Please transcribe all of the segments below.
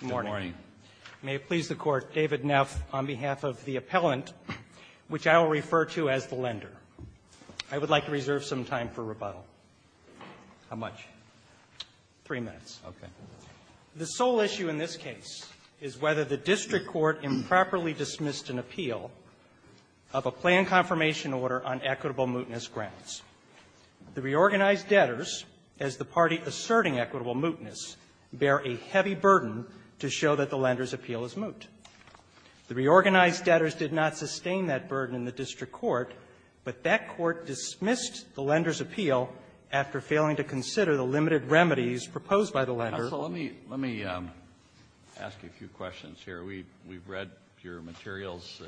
Good morning. May it please the Court, David Neff, on behalf of the appellant, which I will refer to as the lender. I would like to reserve some time for rebuttal. How much? Three minutes. Okay. The sole issue in this case is whether the district court improperly dismissed an appeal of a planned confirmation order on equitable mootness grounds. The reorganized debtors, as the party asserting equitable mootness, bear a heavy burden to show that the lender's appeal is moot. The reorganized debtors did not sustain that burden in the district court, but that court dismissed the lender's appeal after failing to consider the limited remedies proposed by the lender. Counsel, let me ask a few questions here. We've read your materials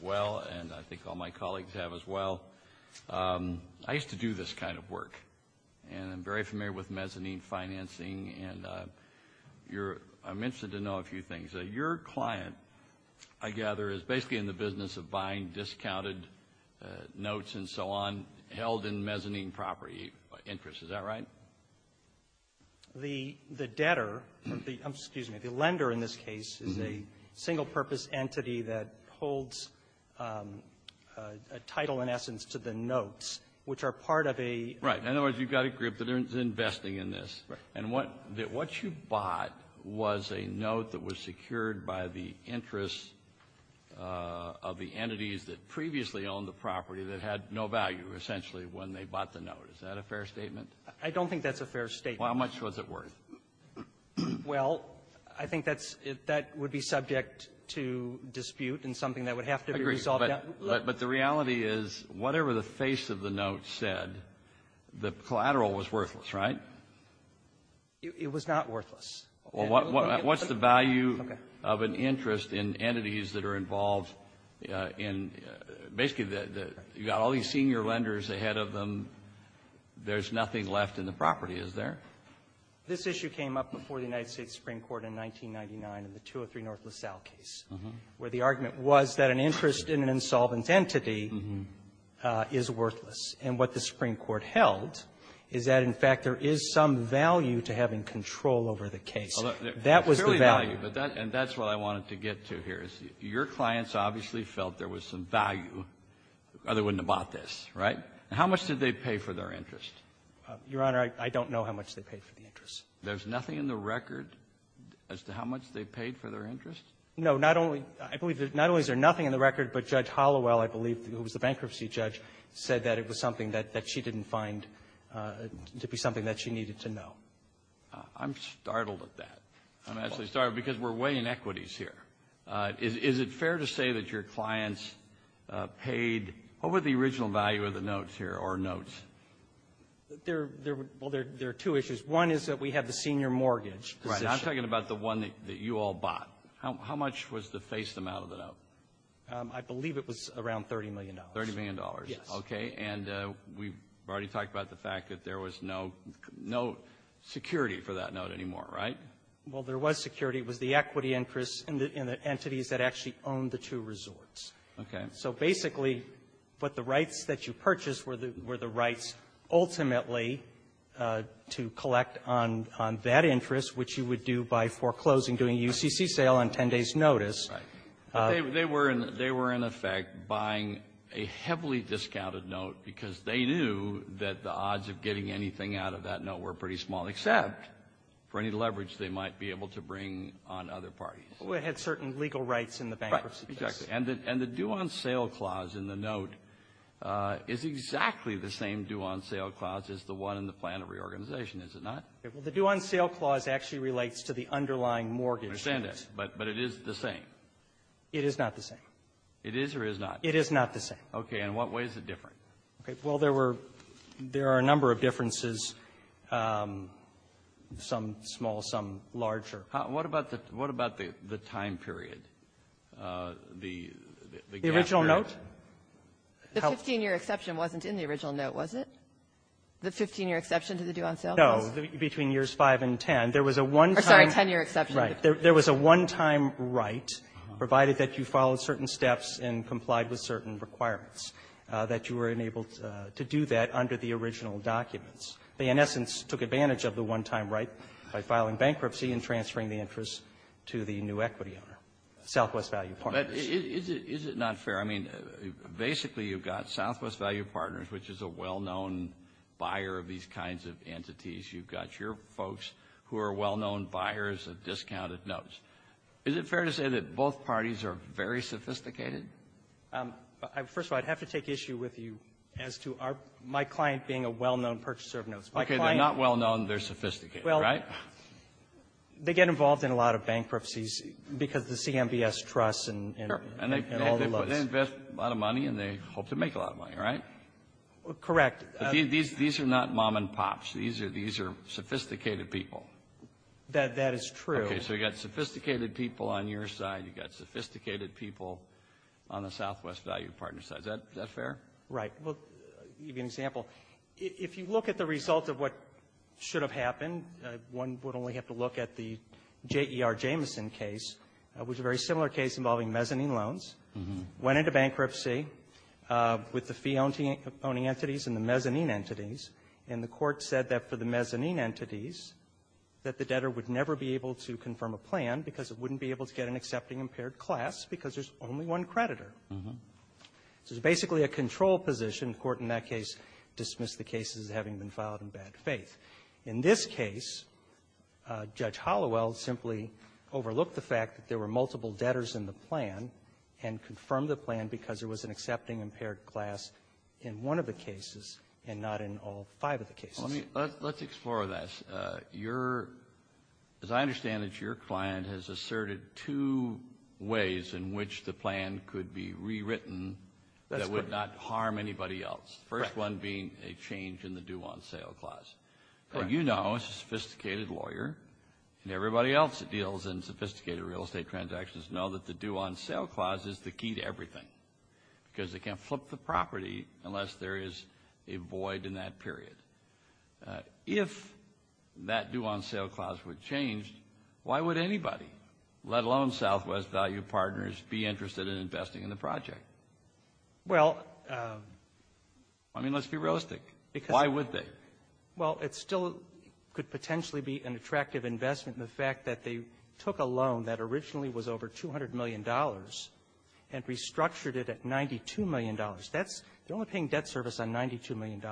well, and I think all my colleagues have as well. I used to do this kind of work, and I'm very familiar with mezzanine financing, and I'm interested to know a few things. Your client, I gather, is basically in the business of buying discounted notes and so on held in mezzanine property interests. Is that right? The debtor, excuse me, the lender in this case is a single-purpose entity that holds a title, in essence, to the notes, which are part of a ---- Right. In other words, you've got a group that is investing in this. Right. And what you bought was a note that was secured by the interests of the entities that previously owned the property that had no value, essentially, when they bought the note. Is that a fair statement? I don't think that's a fair statement. Well, how much was it worth? Well, I think that's ---- that would be subject to dispute and something that would have to be resolved. I agree. But the reality is, whatever the face of the note said, the collateral was worthless, right? It was not worthless. Well, what's the value of an interest in entities that are involved in ---- basically, the ---- you've got all these senior lenders ahead of them. There's nothing left in the property, is there? This issue came up before the United States Supreme Court in 1999 in the 203 North LaSalle case, where the argument was that an interest in an insolvent entity is worthless. And what the Supreme Court held is that, in fact, there is some value to having control over the case. That was the value. And that's what I wanted to get to here, is your clients obviously felt there was some value, otherwise they wouldn't have bought this, right? How much did they pay for their interest? Your Honor, I don't know how much they paid for the interest. There's nothing in the record as to how much they paid for their interest? No. Not only ---- I believe that not only is there nothing in the record, but Judge Hallowell, I believe, who was the bankruptcy judge, said that it was something that she didn't find to be something that she needed to know. I'm startled at that. I'm actually startled because we're weighing equities here. Is it fair to say that your clients paid, what were the original value of the notes here, or notes? Well, there are two issues. One is that we have the senior mortgage. Right. I'm talking about the one that you all bought. How much was the face amount of the note? I believe it was around $30 million. $30 million? Yes. Okay. And we've already talked about the fact that there was no security for that note anymore, right? Well, there was security. It was the equity interest in the entities that actually owned the two resorts. Okay. So basically, what the rights that you purchased were the rights ultimately to collect on that interest, which you would do by foreclosing, doing a UCC sale on 10 days' notice. Right. But they were in effect buying a heavily discounted note because they knew that the odds of getting anything out of that note were pretty small, except for any leverage they might be able to bring on other parties. Well, it had certain legal rights in the bankruptcy case. Right. Exactly. And the due-on-sale clause in the note is exactly the same due-on-sale clause as the one in the plan of reorganization, is it not? Well, the due-on-sale clause actually relates to the underlying mortgage. I understand that. But it is the same. It is not the same. It is or is not? It is not the same. Okay. In what way is it different? Okay. Well, there were – there are a number of differences, some small, some larger. What about the – what about the time period, the gap period? The original note? The 15-year exception wasn't in the original note, was it? The 15-year exception to the due-on-sale clause? No. Between years 5 and 10, there was a one-time – Or, sorry, 10-year exception. Right. There was a one-time right, provided that you followed certain steps and complied with certain requirements, that you were enabled to do that under the original documents. They, in essence, took advantage of the one-time right by filing bankruptcy and transferring the interest to the new equity owner, Southwest Value Partners. Is it not fair? I mean, basically, you've got Southwest Value Partners, which is a well-known buyer of these kinds of entities. You've got your folks who are well-known buyers of discounted notes. Is it fair to say that both parties are very sophisticated? First of all, I'd have to take issue with you as to our – my client being a well-known purchaser of notes. My client – Okay. They're not well-known. They're sophisticated, right? Well, they get involved in a lot of bankruptcies because the CMBS trusts and all the loans. Sure. And they invest a lot of money, and they hope to make a lot of money, right? Correct. These are not mom-and-pops. These are – these are sophisticated people. That is true. Okay. So you've got sophisticated people on your side. You've got sophisticated people on the Southwest Value Partners side. Is that fair? Right. Well, I'll give you an example. If you look at the result of what should have happened, one would only have to look at the J.E.R. Jameson case, which is a very similar case involving mezzanine loans. Went into bankruptcy with the fee-owning entities and the mezzanine entities. And the court said that for the mezzanine entities, that the debtor would never be an accepting impaired class because there's only one creditor. So it's basically a control position. The court in that case dismissed the case as having been filed in bad faith. In this case, Judge Halliwell simply overlooked the fact that there were multiple debtors in the plan and confirmed the plan because there was an accepting impaired class in one of the cases and not in all five of the cases. Let's explore this. Your, as I understand it, your client has asserted two ways in which the plan could be rewritten that would not harm anybody else. First one being a change in the due-on-sale clause. You know as a sophisticated lawyer and everybody else that deals in sophisticated real estate transactions know that the due-on-sale clause is the key to everything because they can't flip the property unless there is a void in that period. If that due-on-sale clause were changed, why would anybody, let alone Southwest Value Partners, be interested in investing in the project? Well, I mean, let's be realistic. Why would they? Well, it still could potentially be an attractive investment in the fact that they took a loan that originally was over $200 million and restructured it at $92 million. That's, they're only paying debt service on $92 million.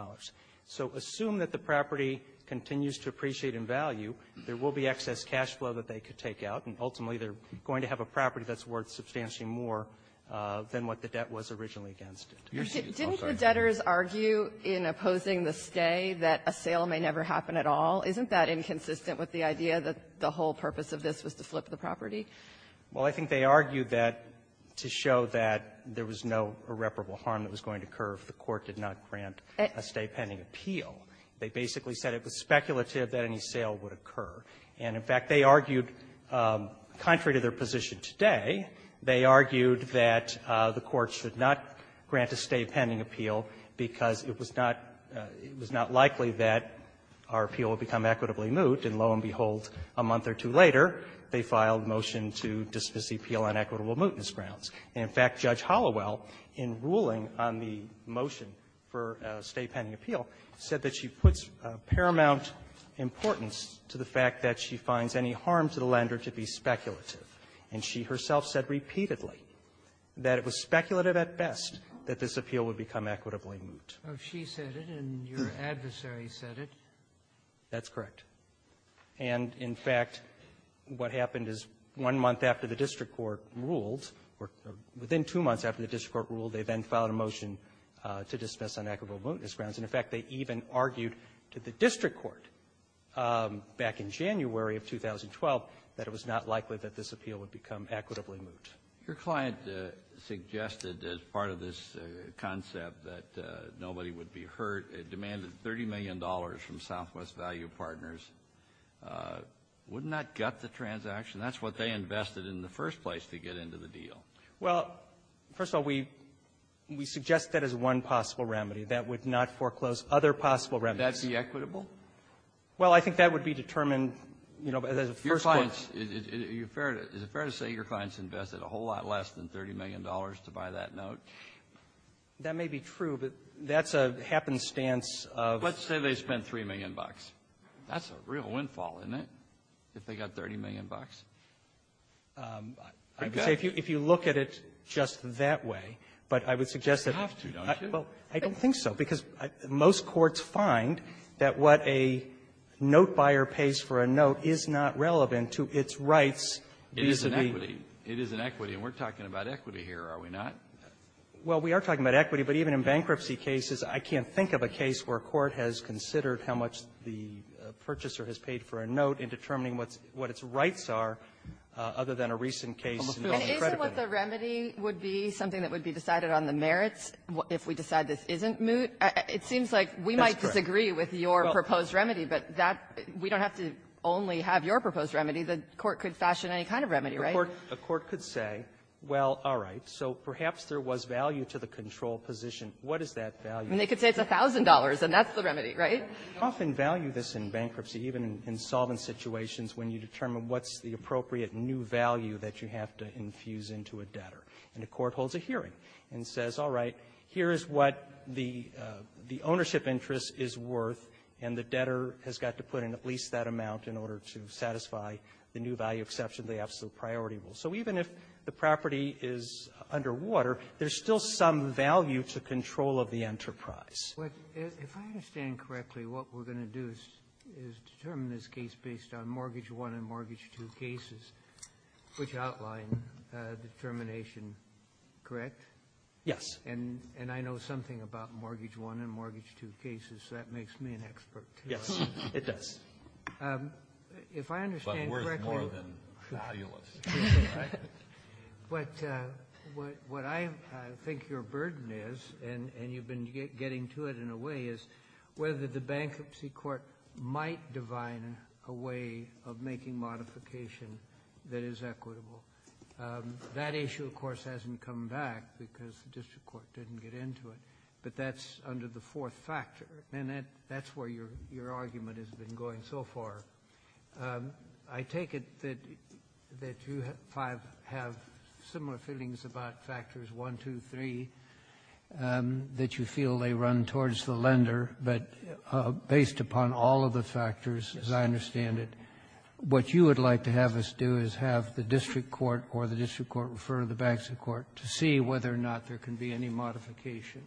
So assume that the property continues to appreciate in value, there will be excess cash flow that they could take out, and ultimately they're going to have a property that's worth substantially more than what the debt was originally against it. Didn't the debtors argue in opposing the stay that a sale may never happen at all? Isn't that inconsistent with the idea that the whole purpose of this was to flip the property? Well, I think they argued that to show that there was no irreparable harm that was not granted a stay pending appeal. They basically said it was speculative that any sale would occur. And, in fact, they argued, contrary to their position today, they argued that the Court should not grant a stay pending appeal because it was not, it was not likely that our appeal would become equitably moot. And lo and behold, a month or two later, they filed a motion to dismiss the appeal on equitable mootness grounds. And, in fact, Judge Hollowell, in ruling on the motion for a stay pending appeal, said that she puts paramount importance to the fact that she finds any harm to the lender to be speculative. And she herself said repeatedly that it was speculative at best that this appeal would become equitably moot. Oh, she said it, and your adversary said it. That's correct. And, in fact, what happened is one month after the district court ruled, or the district within two months after the district court ruled, they then filed a motion to dismiss on equitable mootness grounds. And, in fact, they even argued to the district court back in January of 2012 that it was not likely that this appeal would become equitably moot. Your client suggested as part of this concept that nobody would be hurt. It demanded $30 million from Southwest Value Partners. Wouldn't that gut the transaction? That's what they invested in the first place to get into the deal. Well, first of all, we suggest that as one possible remedy. That would not foreclose other possible remedies. Would that be equitable? Well, I think that would be determined, you know, as a first point. Is it fair to say your clients invested a whole lot less than $30 million to buy that note? That may be true, but that's a happenstance of ---- Let's say they spent $3 million. That's a real windfall, isn't it, if they got $30 million? I would say if you look at it just that way, but I would suggest that ---- You have to, don't you? I don't think so, because most courts find that what a note buyer pays for a note is not relevant to its rights vis-a-vis ---- It is an equity. It is an equity. And we're talking about equity here, are we not? Well, we are talking about equity, but even in bankruptcy cases, I can't think of a case where a court has considered how much the purchaser has paid for a note in determining what's its rights are other than a recent case involving credibility. Isn't what the remedy would be something that would be decided on the merits if we decide this isn't moot? It seems like we might disagree with your proposed remedy, but that we don't have to only have your proposed remedy. The court could fashion any kind of remedy, right? A court could say, well, all right, so perhaps there was value to the control position. What is that value? I mean, they could say it's $1,000, and that's the remedy, right? We often value this in bankruptcy, even in solvent situations, when you determine what's the appropriate new value that you have to infuse into a debtor. And a court holds a hearing and says, all right, here is what the ownership interest is worth, and the debtor has got to put in at least that amount in order to satisfy the new value exception, the absolute priority rule. So even if the property is underwater, there's still some value to control of the enterprise. If I understand correctly, what we're going to do is determine this case based on Mortgage I and Mortgage II cases, which outline determination, correct? Yes. And I know something about Mortgage I and Mortgage II cases, so that makes me an expert. Yes, it does. If I understand correctly you're going to do this, but what I think your burden is, and you've been getting to it in a way, is whether the bankruptcy court might define a way of making modification that is equitable. That issue, of course, hasn't come back because the district court didn't get into it, but that's under the fourth factor, and that's where your argument has been going so far. I take it that you five have similar feelings about factors 1, 2, 3, that you feel they run towards the lender, but based upon all of the factors, as I understand it, what you would like to have us do is have the district court or the district court refer to the bankruptcy court to see whether or not there can be any modification.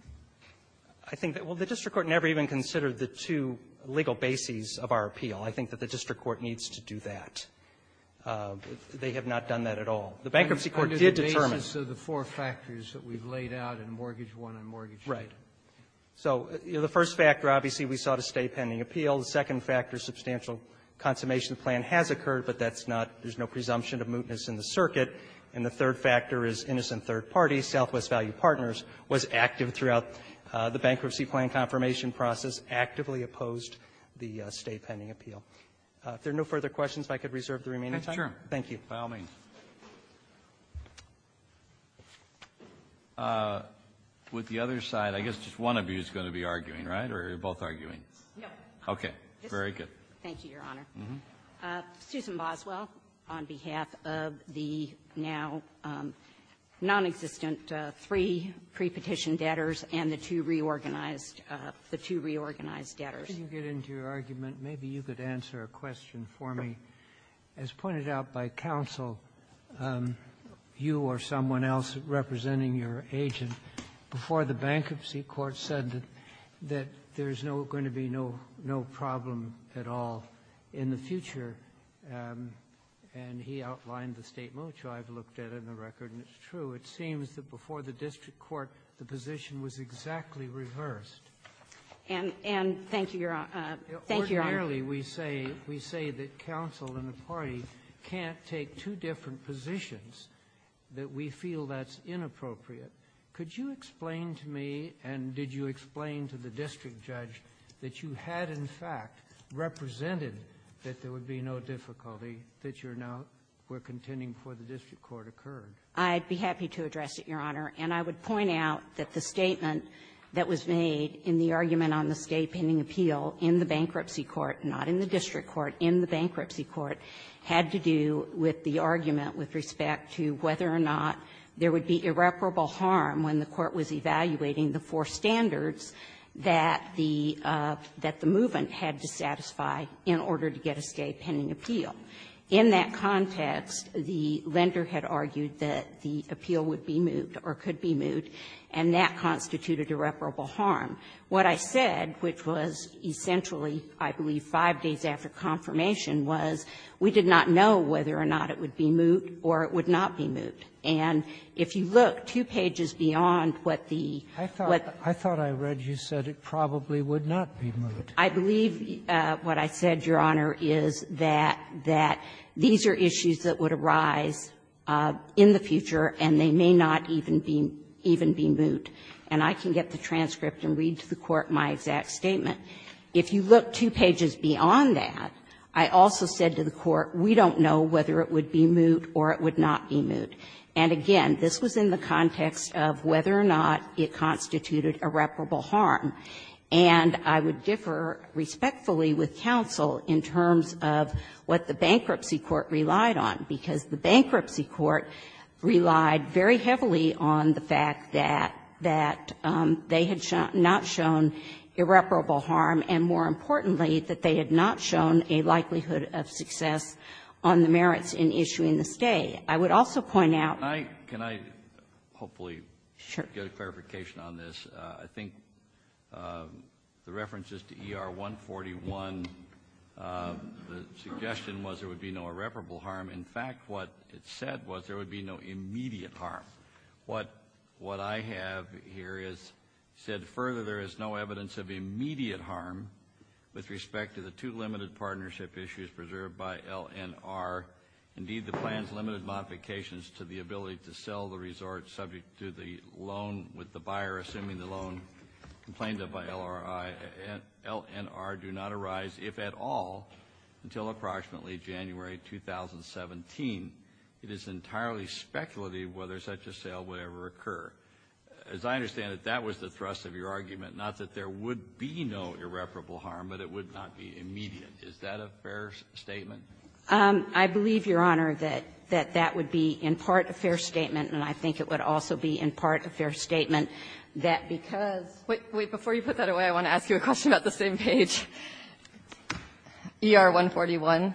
I think that the district court never even considered the two legal bases of our appeal. I think that the district court needs to do that. They have not done that at all. The bankruptcy court did determine the basis of the four factors that we've laid out in Mortgage I and Mortgage II. Right. So the first factor, obviously, we saw the State Pending Appeal. The second factor, substantial consummation of the plan has occurred, but that's not there's no presumption of mootness in the circuit. And the third factor is innocent third parties, Southwest Value Partners was active throughout the bankruptcy plan confirmation process, actively opposed the State Pending Appeal. If there are no further questions, if I could reserve the remaining time. Roberts. Thank you. By all means. With the other side, I guess just one of you is going to be arguing, right? Or are you both arguing? No. Okay. Very good. Thank you, Your Honor. Susan Boswell on behalf of the now nonexistent three prepetition debtors and the two reorganized the two reorganized debtors. If you could get into your argument, maybe you could answer a question for me. As pointed out by counsel, you or someone else representing your agent, before the Bankruptcy Court said that there's no going to be no problem at all in the future, and he outlined the state moot, which I've looked at in the record, and it's true. It seems that before the district court, the position was exactly reversed. And thank you, Your Honor. Thank you, Your Honor. Ordinarily, we say that counsel and the party can't take two different positions, that we feel that's inappropriate. Could you explain to me, and did you explain to the district judge, that you had, in fact, represented that there would be no difficulty that you're now we're contending before the district court occurred? I'd be happy to address it, Your Honor. And I would point out that the statement that was made in the argument on the state pending appeal in the Bankruptcy Court, not in the district court, in the Bankruptcy Court, had to do with the argument with respect to whether or not there would be irreparable harm when the court was evaluating the four standards that the movement had to satisfy in order to get a state pending appeal. In that context, the lender had argued that the appeal would be moved or could be moved, and that constituted irreparable harm. What I said, which was essentially, I believe, five days after confirmation, was we did not know whether or not it would be moved or it would not be moved. And if you look two pages beyond what the what the I thought I read you said it probably would not be moved. I believe what I said, Your Honor, is that these are issues that would arise in the future, and they may not even be even be moved. And I can get the transcript and read to the Court my exact statement. If you look two pages beyond that, I also said to the Court, we don't know whether it would be moved or it would not be moved. And again, this was in the context of whether or not it constituted irreparable harm. And I would differ respectfully with counsel in terms of what the Bankruptcy Court relied on, because the Bankruptcy Court relied very heavily on the fact that they had not shown irreparable harm, and more importantly, that they had not shown a likelihood of success on the merits in issuing the stay. I would also point out Can I hopefully get a clarification on this? I think the references to ER 141, the suggestion was there would be no irreparable harm. In fact, what it said was there would be no immediate harm. What what I have here is said further, there is no evidence of immediate harm with respect to the two limited partnership issues preserved by LNR, indeed, the plan's limited modifications to the ability to sell the resort subject to the loan with the ability to sell the loan complained of by LRI and LNR do not arise, if at all, until approximately January 2017. It is entirely speculative whether such a sale would ever occur. As I understand it, that was the thrust of your argument, not that there would be no irreparable harm, but it would not be immediate. Is that a fair statement? I believe, Your Honor, that that would be in part a fair statement, and I think it would also be in part a fair statement, that because wait, wait, before you put that away, I want to ask you a question about the same page. ER 141,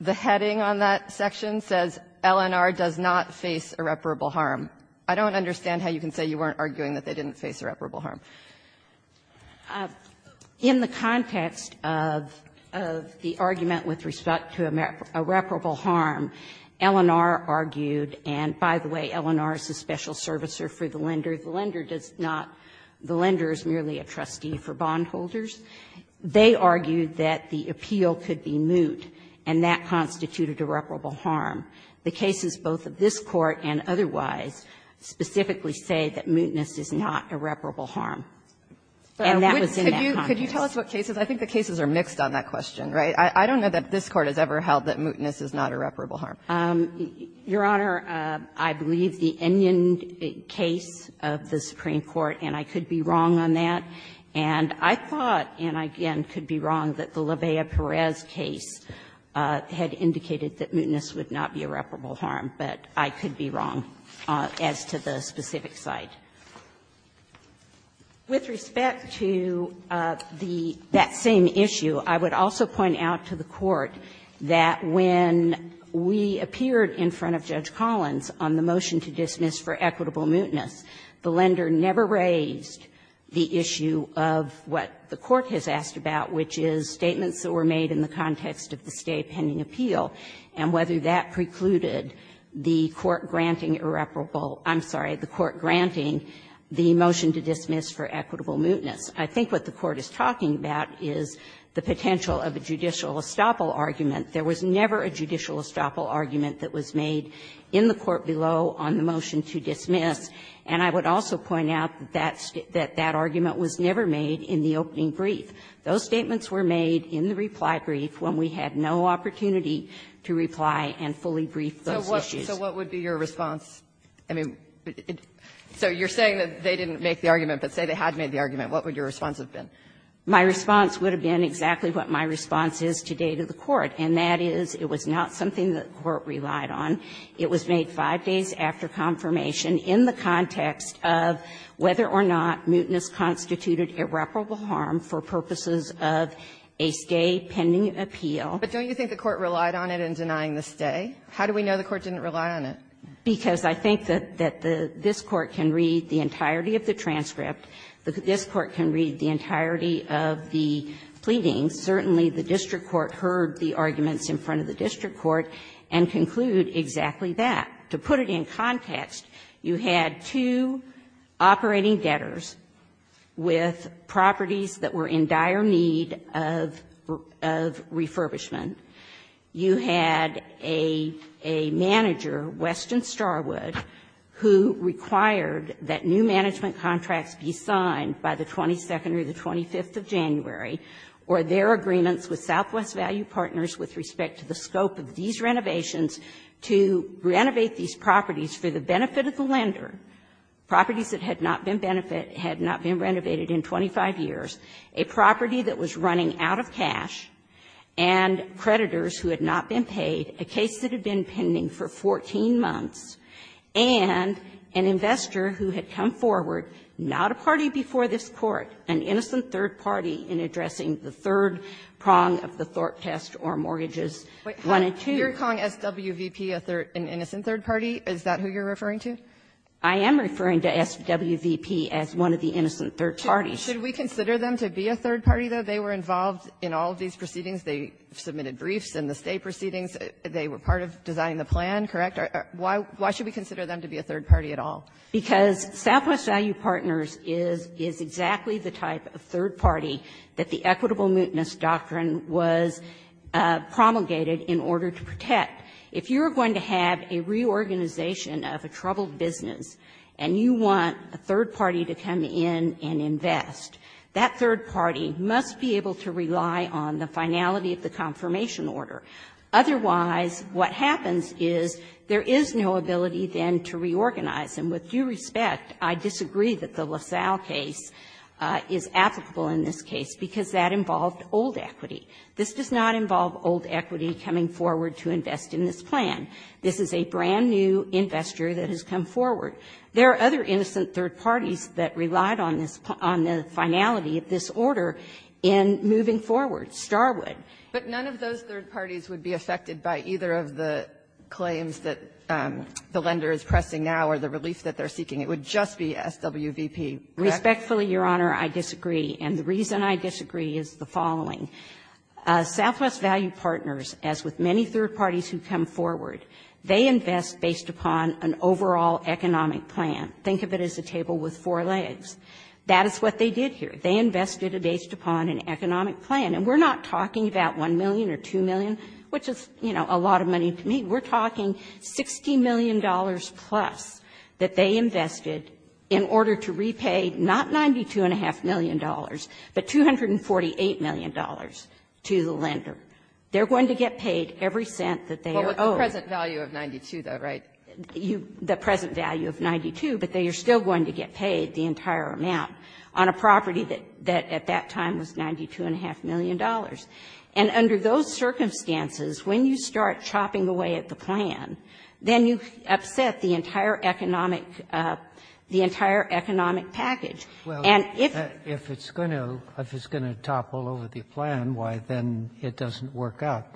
the heading on that section says, LNR does not face irreparable harm. I don't understand how you can say you weren't arguing that they didn't face irreparable harm. In the context of the argument with respect to irreparable harm, LNR argued, and by the way, LNR is a special servicer for the lender. The lender does not – the lender is merely a trustee for bondholders. They argued that the appeal could be moot, and that constituted irreparable harm. The cases both of this Court and otherwise specifically say that mootness is not irreparable harm. And that was in that context. But could you tell us what cases – I think the cases are mixed on that question, right? I don't know that this Court has ever held that mootness is not irreparable harm. Your Honor, I believe the Enion case of the Supreme Court, and I could be wrong on that. And I thought, and I again could be wrong, that the LaVeya-Perez case had indicated that mootness would not be irreparable harm. But I could be wrong as to the specific site. With respect to the – that same issue, I would also point out to the Court that when we appeared in front of Judge Collins on the motion to dismiss for equitable mootness, the lender never raised the issue of what the Court has asked about, which is statements that were made in the context of the stay pending appeal, and whether that precluded the Court granting irreparable – I'm sorry, the Court granting the motion to dismiss for equitable mootness. I think what the Court is talking about is the potential of a judicial estoppel argument. There was never a judicial estoppel argument that was made in the court below on the motion to dismiss. And I would also point out that that argument was never made in the opening brief. Those statements were made in the reply brief when we had no opportunity to reply and fully brief those issues. Kagan. So what would be your response? I mean, so you're saying that they didn't make the argument, but say they had made the argument. What would your response have been? My response would have been exactly what my response is today to the Court, and that is it was not something that the Court relied on. It was made 5 days after confirmation in the context of whether or not mootness constituted irreparable harm for purposes of a stay pending appeal. But don't you think the Court relied on it in denying the stay? How do we know the Court didn't rely on it? Because I think that this Court can read the entirety of the transcript. This Court can read the entirety of the pleadings. Certainly, the district court heard the arguments in front of the district court and concluded exactly that. To put it in context, you had two operating debtors with properties that were in dire need of refurbishment. You had a manager, Weston Starwood, who required that new management contracts be signed by the 22nd or the 25th of January, or their agreements with Southwest Value Partners with respect to the scope of these renovations to renovate these properties for the benefit of the lender, properties that had not been renovated in 25 years, a property that was running out of cash, and creditors who had not been And you had a party before this Court, an innocent third party, in addressing the third prong of the THORP test or mortgages, one and two. Kagan, you're calling SWVP an innocent third party? Is that who you're referring to? I am referring to SWVP as one of the innocent third parties. Should we consider them to be a third party, though? They were involved in all of these proceedings. They submitted briefs in the stay proceedings. They were part of designing the plan, correct? Why should we consider them to be a third party at all? Because SWVP is exactly the type of third party that the equitable mootness doctrine was promulgated in order to protect. If you're going to have a reorganization of a troubled business and you want a third party to come in and invest, that third party must be able to rely on the finality of the confirmation order. Otherwise, what happens is there is no ability, then, to reorganize. And with due respect, I disagree that the LaSalle case is applicable in this case because that involved old equity. This does not involve old equity coming forward to invest in this plan. This is a brand-new investor that has come forward. There are other innocent third parties that relied on the finality of this order in moving forward, Starwood. But none of those third parties would be affected by either of the claims that the lender is pressing now or the relief that they're seeking. It would just be SWVP, correct? Respectfully, Your Honor, I disagree. And the reason I disagree is the following. Southwest Value Partners, as with many third parties who come forward, they invest based upon an overall economic plan. Think of it as a table with four legs. That is what they did here. They invested based upon an economic plan. And we're not talking about $1 million or $2 million, which is, you know, a lot of money to me. We're talking $60 million-plus that they invested in order to repay not $92.5 million, but $248 million to the lender. They're going to get paid every cent that they are owed. Well, with the present value of $92, though, right? The present value of $92, but they are still going to get paid the entire amount on a property that at that time was $92.5 million. And under those circumstances, when you start chopping away at the plan, then you upset the entire economic package. And if it's going to topple over the plan, why then it doesn't work out?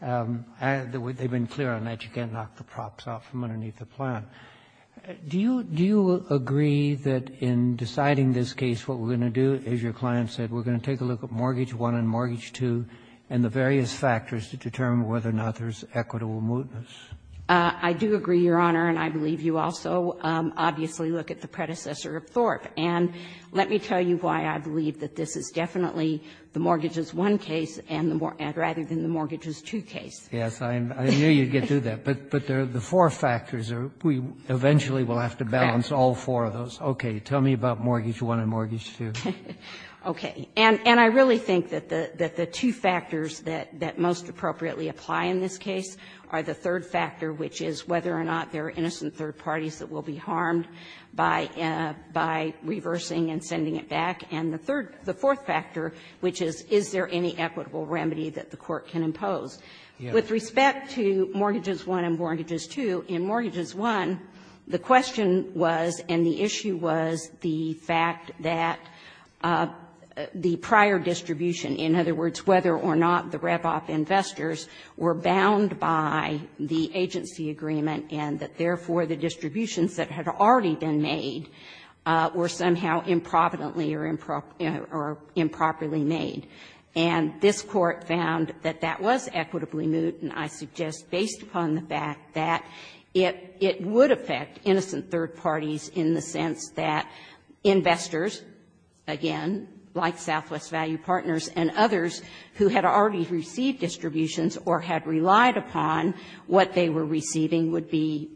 They've been clear on that. You can't knock the props out from underneath the plan. Do you agree that in deciding this case, what we're going to do, as your client said, we're going to take a look at Mortgage I and Mortgage II and the various factors to determine whether or not there's equitable movements? I do agree, Your Honor, and I believe you also, obviously, look at the predecessor of Thorpe. And let me tell you why I believe that this is definitely the Mortgages I case and the Mortgages II case. Yes, I knew you'd get to that. But the four factors are we eventually will have to balance all four of those. Okay. Tell me about Mortgage I and Mortgage II. Okay. And I really think that the two factors that most appropriately apply in this case are the third factor, which is whether or not there are innocent third parties that will be harmed by reversing and sending it back, and the fourth factor, which is, is there any equitable remedy that the court can impose? With respect to Mortgages I and Mortgages II, in Mortgages I, the question was, and the issue was, the fact that the prior distribution, in other words, whether or not the RepOF investors were bound by the agency agreement and that, therefore, the distributions that had already been made were somehow improvidently or improperly made. And this court found that that was equitably moot, and I suggest, based upon the fact that it would affect innocent third parties in the sense that investors, again, like Southwest Value Partners and others who had already received distributions or had relied upon what they were receiving would be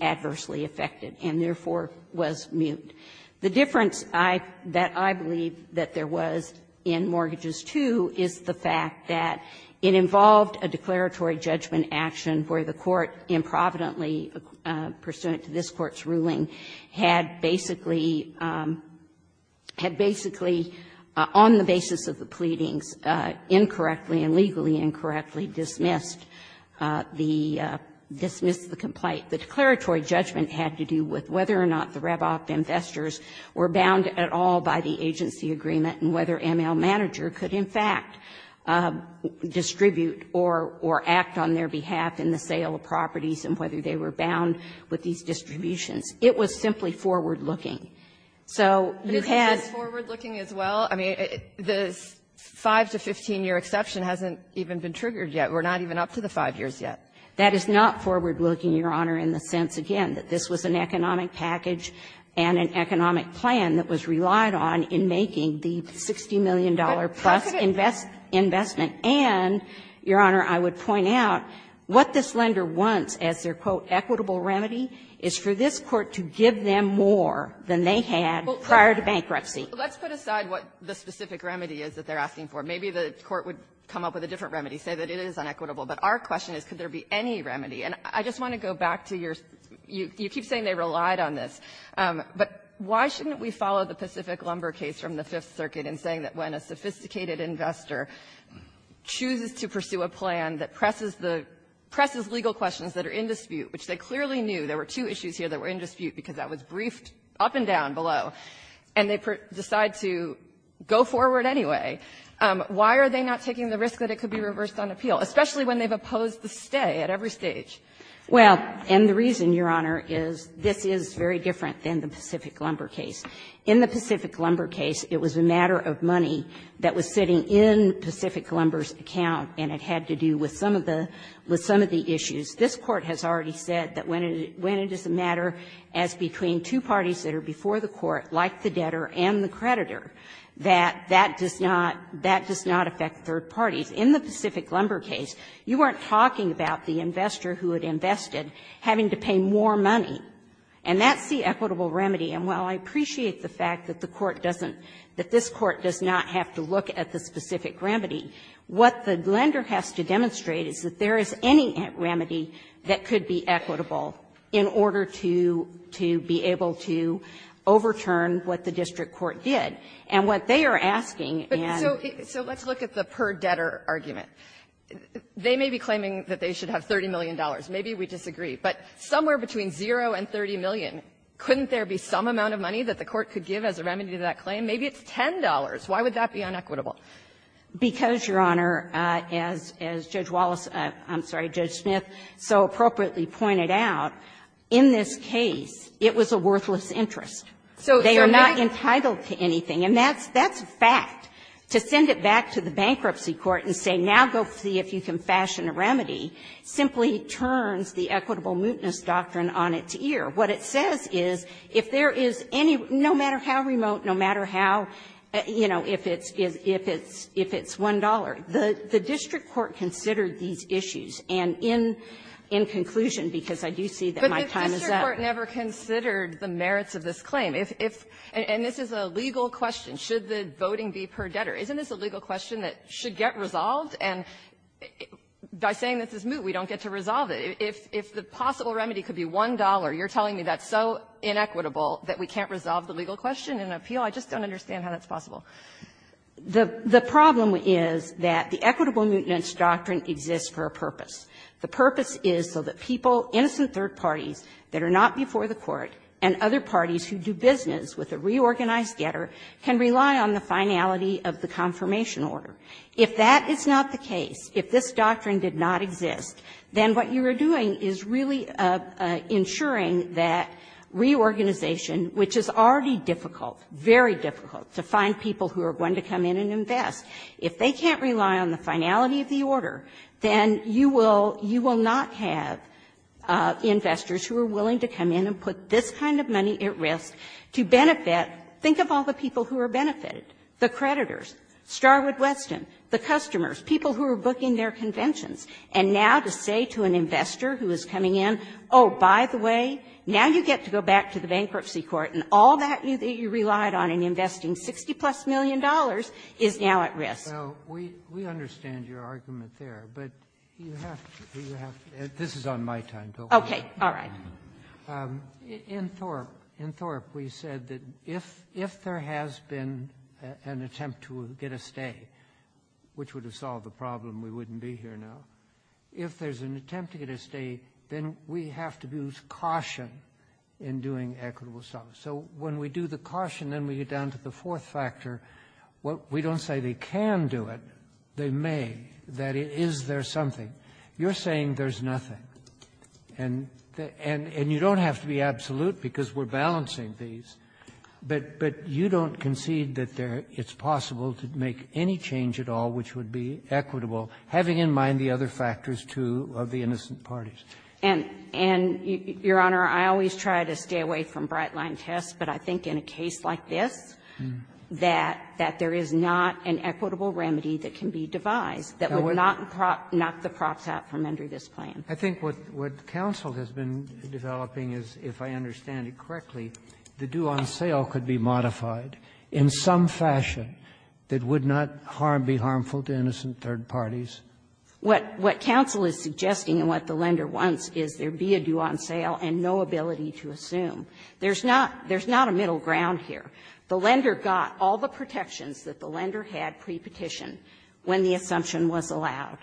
adversely affected and, therefore, was moot. The difference that I believe that there was in Mortgages II is the fact that it involved a declaratory judgment action where the court improvidently, pursuant to this court's ruling, had basically, had basically, on the basis of the pleadings, incorrectly and legally incorrectly dismissed the complaint. The declaratory judgment had to do with whether or not the RepOF investors were bound at all by the agency agreement and whether ML Manager could, in fact, distribute or act on their behalf in the sale of properties and whether they were bound with these distributions. It was simply forward-looking. So you had to be able to make a decision that was in line with what was in the agreement. Kagan. But is this forward-looking as well? I mean, this 5- to 15-year exception hasn't even been triggered yet. We're not even up to the 5 years yet. That is not forward-looking, Your Honor, in the sense, again, that this was an economic package and an economic plan that was relied on in making the $60 million-plus investment. And, Your Honor, I would point out what this lender wants as their, quote, equitable remedy is for this Court to give them more than they had prior to bankruptcy. Well, let's put aside what the specific remedy is that they're asking for. Maybe the Court would come up with a different remedy, say that it is unequitable. But our question is, could there be any remedy? And I just want to go back to your — you keep saying they relied on this. But why shouldn't we follow the Pacific Lumber case from the Fifth Circuit in saying that when a sophisticated investor chooses to pursue a plan that presses the — presses legal questions that are in dispute, which they clearly knew there were two issues here that were in dispute because that was briefed up and down below, and they decide to go forward anyway, why are they not taking the risk that it could be reversed on appeal, especially when they've opposed the stay at every stage? Well, and the reason, Your Honor, is this is very different than the Pacific Lumber case. In the Pacific Lumber case, it was a matter of money that was sitting in Pacific Lumber's account, and it had to do with some of the — with some of the issues. This Court has already said that when it is a matter as between two parties that are before the Court, like the debtor and the creditor, that that does not — that does not affect third parties. In the Pacific Lumber case, you weren't talking about the investor who had invested having to pay more money, and that's the equitable remedy. And while I appreciate the fact that the Court doesn't — that this Court does not have to look at the specific remedy, what the lender has to demonstrate is that there is any remedy that could be equitable in order to — to be able to overturn what the district court did. And what they are asking and — and that's their argument. They may be claiming that they should have $30 million. Maybe we disagree. But somewhere between zero and $30 million, couldn't there be some amount of money that the Court could give as a remedy to that claim? Maybe it's $10. Why would that be unequitable? Because, Your Honor, as — as Judge Wallace — I'm sorry, Judge Smith so appropriately pointed out, in this case, it was a worthless interest. So they are not entitled to anything. And that's — that's fact. To send it back to the bankruptcy court and say, now go see if you can fashion a remedy, simply turns the equitable mootness doctrine on its ear. What it says is, if there is any — no matter how remote, no matter how, you know, if it's — if it's $1, the district court considered these issues. And in — in conclusion, because I do see that my time is up. But the district court never considered the merits of this claim. If — if — and this is a legal question. Should the voting be per debtor? Isn't this a legal question that should get resolved? And by saying this is moot, we don't get to resolve it. If — if the possible remedy could be $1, you're telling me that's so inequitable that we can't resolve the legal question in an appeal? I just don't understand how that's possible. The — the problem is that the equitable mootness doctrine exists for a purpose. The purpose is so that people, innocent third parties that are not before the Court and other parties who do business with a reorganized getter can rely on the finality of the confirmation order. If that is not the case, if this doctrine did not exist, then what you are doing is really ensuring that reorganization, which is already difficult, very difficult, to find people who are going to come in and invest. If they can't rely on the finality of the order, then you will — you will not have investors who are willing to come in and put this kind of money at risk to benefit — think of all the people who are benefited, the creditors, Starwood Weston, the customers, people who are booking their conventions, and now to say to an investor who is coming in, oh, by the way, now you get to go back to the bankruptcy court and all that you relied on in investing $60-plus million is now at risk. Well, we understand your argument there, but you have to — this is on my time. Okay. All right. In Thorpe, in Thorpe we said that if there has been an attempt to get a stay, which would have solved the problem, we wouldn't be here now. If there's an attempt to get a stay, then we have to use caution in doing equitable solvents. So when we do the caution, then we get down to the fourth factor. We don't say they can do it, they may, that is there something. You're saying there's nothing, and you don't have to be absolute because we're balancing these, but you don't concede that it's possible to make any change at all which would be equitable, having in mind the other factors, too, of the innocent parties. And, Your Honor, I always try to stay away from bright-line tests, but I think in a way that there is not an equitable remedy that can be devised that would not knock the props out from under this plan. I think what counsel has been developing is, if I understand it correctly, the due-on-sale could be modified in some fashion that would not harm, be harmful to innocent third parties. What counsel is suggesting and what the lender wants is there be a due-on-sale and no ability to assume. There's not a middle ground here. The lender got all the protections that the lender had pre-petition when the assumption was allowed.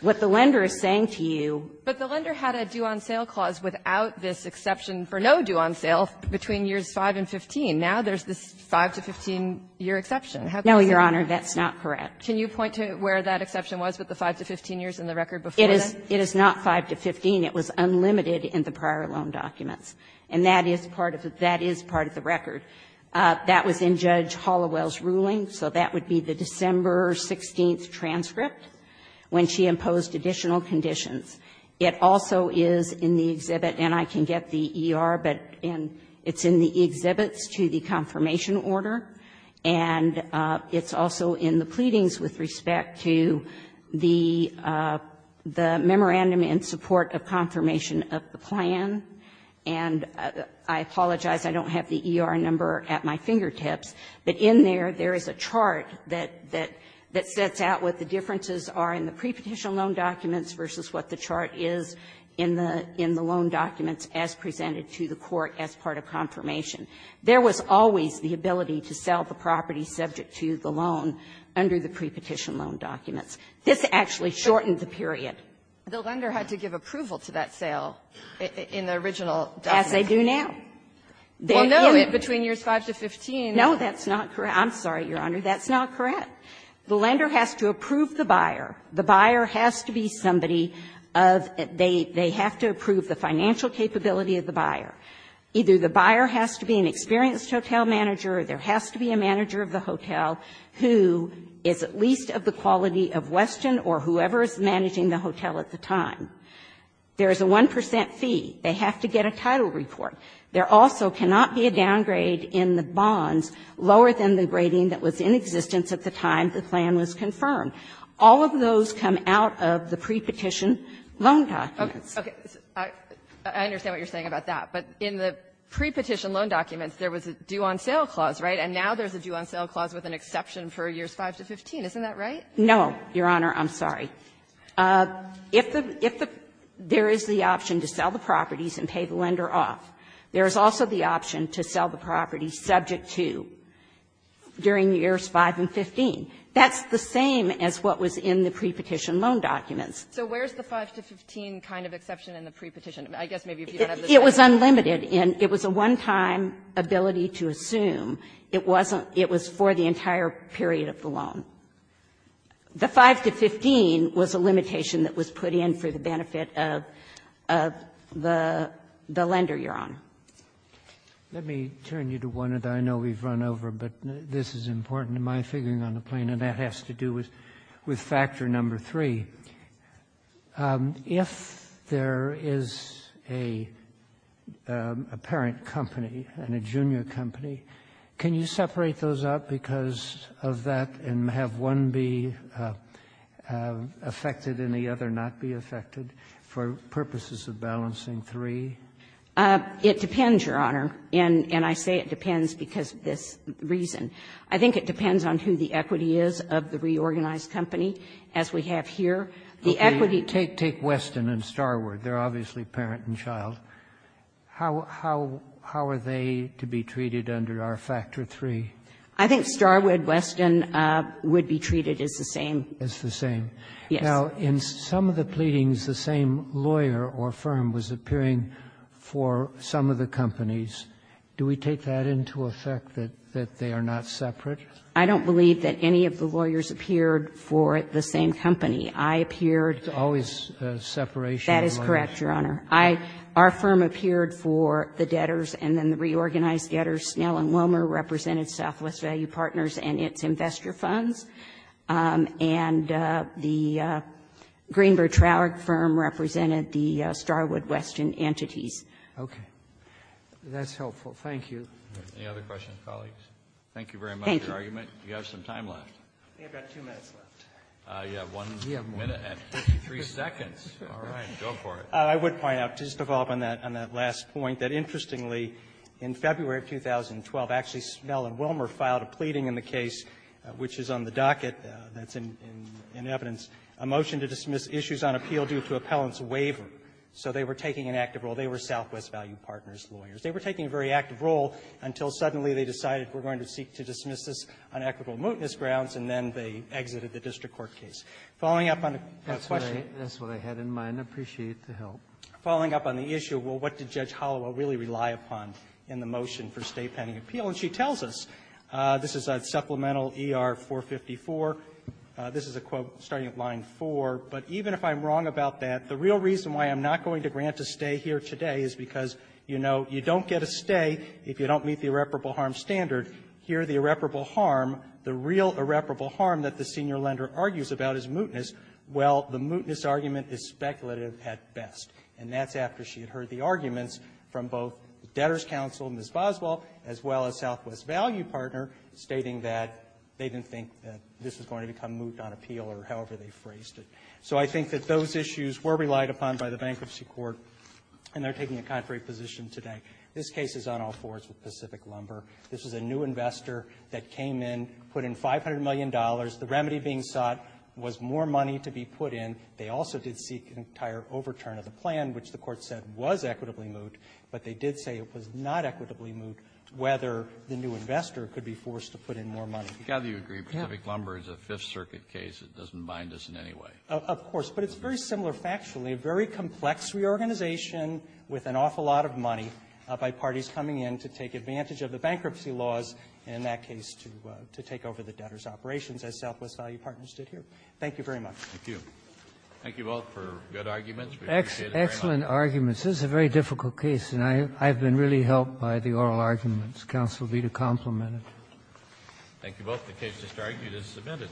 What the lender is saying to you ---- But the lender had a due-on-sale clause without this exception for no due-on-sale between years 5 and 15. Now, there's this 5 to 15-year exception. How can you say that? No, Your Honor, that's not correct. Can you point to where that exception was with the 5 to 15 years in the record before that? It is not 5 to 15. It was unlimited in the prior loan documents, and that is part of the record. That was in Judge Halliwell's ruling, so that would be the December 16th transcript when she imposed additional conditions. It also is in the exhibit, and I can get the ER, but it's in the exhibits to the confirmation order, and it's also in the pleadings with respect to the memorandum in support of confirmation of the plan. And I apologize, I don't have the ER number at my fingertips, but in there, there is a chart that sets out what the differences are in the prepetition loan documents versus what the chart is in the loan documents as presented to the court as part of confirmation. There was always the ability to sell the property subject to the loan under the prepetition loan documents. This actually shortened the period. The lender had to give approval to that sale in the original document. As they do now. They limit between years 5 to 15. No, that's not correct. I'm sorry, Your Honor. That's not correct. The lender has to approve the buyer. The buyer has to be somebody of they have to approve the financial capability of the buyer. Either the buyer has to be an experienced hotel manager or there has to be a manager of the hotel who is at least of the quality of Weston or whoever is managing the hotel at the time. There is a 1 percent fee. They have to get a title report. There also cannot be a downgrade in the bonds lower than the grading that was in existence at the time the plan was confirmed. All of those come out of the prepetition loan documents. Okay. I understand what you're saying about that. But in the prepetition loan documents, there was a due-on-sale clause, right? And now there's a due-on-sale clause with an exception for years 5 to 15. Isn't that right? No, Your Honor. I'm sorry. If the – if the – there is the option to sell the properties and pay the lender off, there is also the option to sell the property subject to during years 5 and 15. That's the same as what was in the prepetition loan documents. So where's the 5 to 15 kind of exception in the prepetition? I guess maybe if you don't have the statute. It was unlimited. And it was a one-time ability to assume. It wasn't – it was for the entire period of the loan. The 5 to 15 was a limitation that was put in for the benefit of the lender, Your Honor. Let me turn you to one that I know we've run over, but this is important to my figuring on the plane, and that has to do with Factor No. 3. If there is a parent company and a junior company, can you separate those out because of that and have one be affected and the other not be affected for purposes of balancing three? It depends, Your Honor, and I say it depends because of this reason. I think it depends on who the equity is of the reorganized company, as we have here the equity. Take Weston and Starwood. They're obviously parent and child. How are they to be treated under our Factor No. 3? I think Starwood, Weston would be treated as the same. As the same. Yes. Now, in some of the pleadings, the same lawyer or firm was appearing for some of the companies. Do we take that into effect, that they are not separate? I don't believe that any of the lawyers appeared for the same company. I appeared to always separation. That is correct, Your Honor. Our firm appeared for the debtors and then the reorganized debtors. Snell and Womer represented Southwest Value Partners and its investor funds. And the Greenberg-Traurig firm represented the Starwood-Weston entities. Okay. That's helpful. Thank you. Any other questions, colleagues? Thank you very much for your argument. Thank you. You have some time left. I think I've got two minutes left. You have one minute and 53 seconds. All right. Go for it. I would point out, just to follow up on that last point, that interestingly, in February of 2012, actually Snell and Womer filed a pleading in the case, which is on the docket that's in evidence, a motion to dismiss issues on appeal due to appellant's waiver. So they were taking an active role. They were Southwest Value Partners lawyers. They were taking a very active role until suddenly they decided we're going to seek to dismiss this on equitable mootness grounds, and then they exited the district court case. Following up on the question of the issue, well, what did Judge Holloway really rely upon in the motion for stay pending appeal? And she tells us, this is supplemental ER-454, this is a quote starting at line 4, but even if I'm wrong about that, the real reason why I'm not going to grant a stay here today is because, you know, you don't get a stay if you don't meet the irreparable harm standard. Here, the irreparable harm, the real irreparable harm that the senior lender argues about is mootness. Well, the mootness argument is speculative at best. And that's after she had heard the arguments from both the Debtor's Counsel, Ms. Boswell, as well as Southwest Value Partner, stating that they didn't think that this was going to become moot on appeal or however they phrased it. So I think that those issues were relied upon by the bankruptcy court, and they're taking a contrary position today. This case is on all fours with Pacific Lumber. This is a new investor that came in, put in $500 million. The remedy being sought was more money to be put in. They also did seek an entire overturn of the plan, which the Court said was equitably moot, but they did say it was not equitably moot, whether the new investor could be forced to put in more money. Kennedy, do you agree Pacific Lumber is a Fifth Circuit case? It doesn't bind us in any way. Of course. But it's very similar factually, a very complex reorganization with an awful lot of by parties coming in to take advantage of the bankruptcy laws, and in that case, to take over the debtor's operations, as Southwest Value Partners did here. Thank you very much. Thank you. Thank you both for good arguments. We appreciate it very much. Excellent arguments. This is a very difficult case, and I've been really helped by the oral arguments. Counsel will be to complement it. Thank you both. The case is submitted.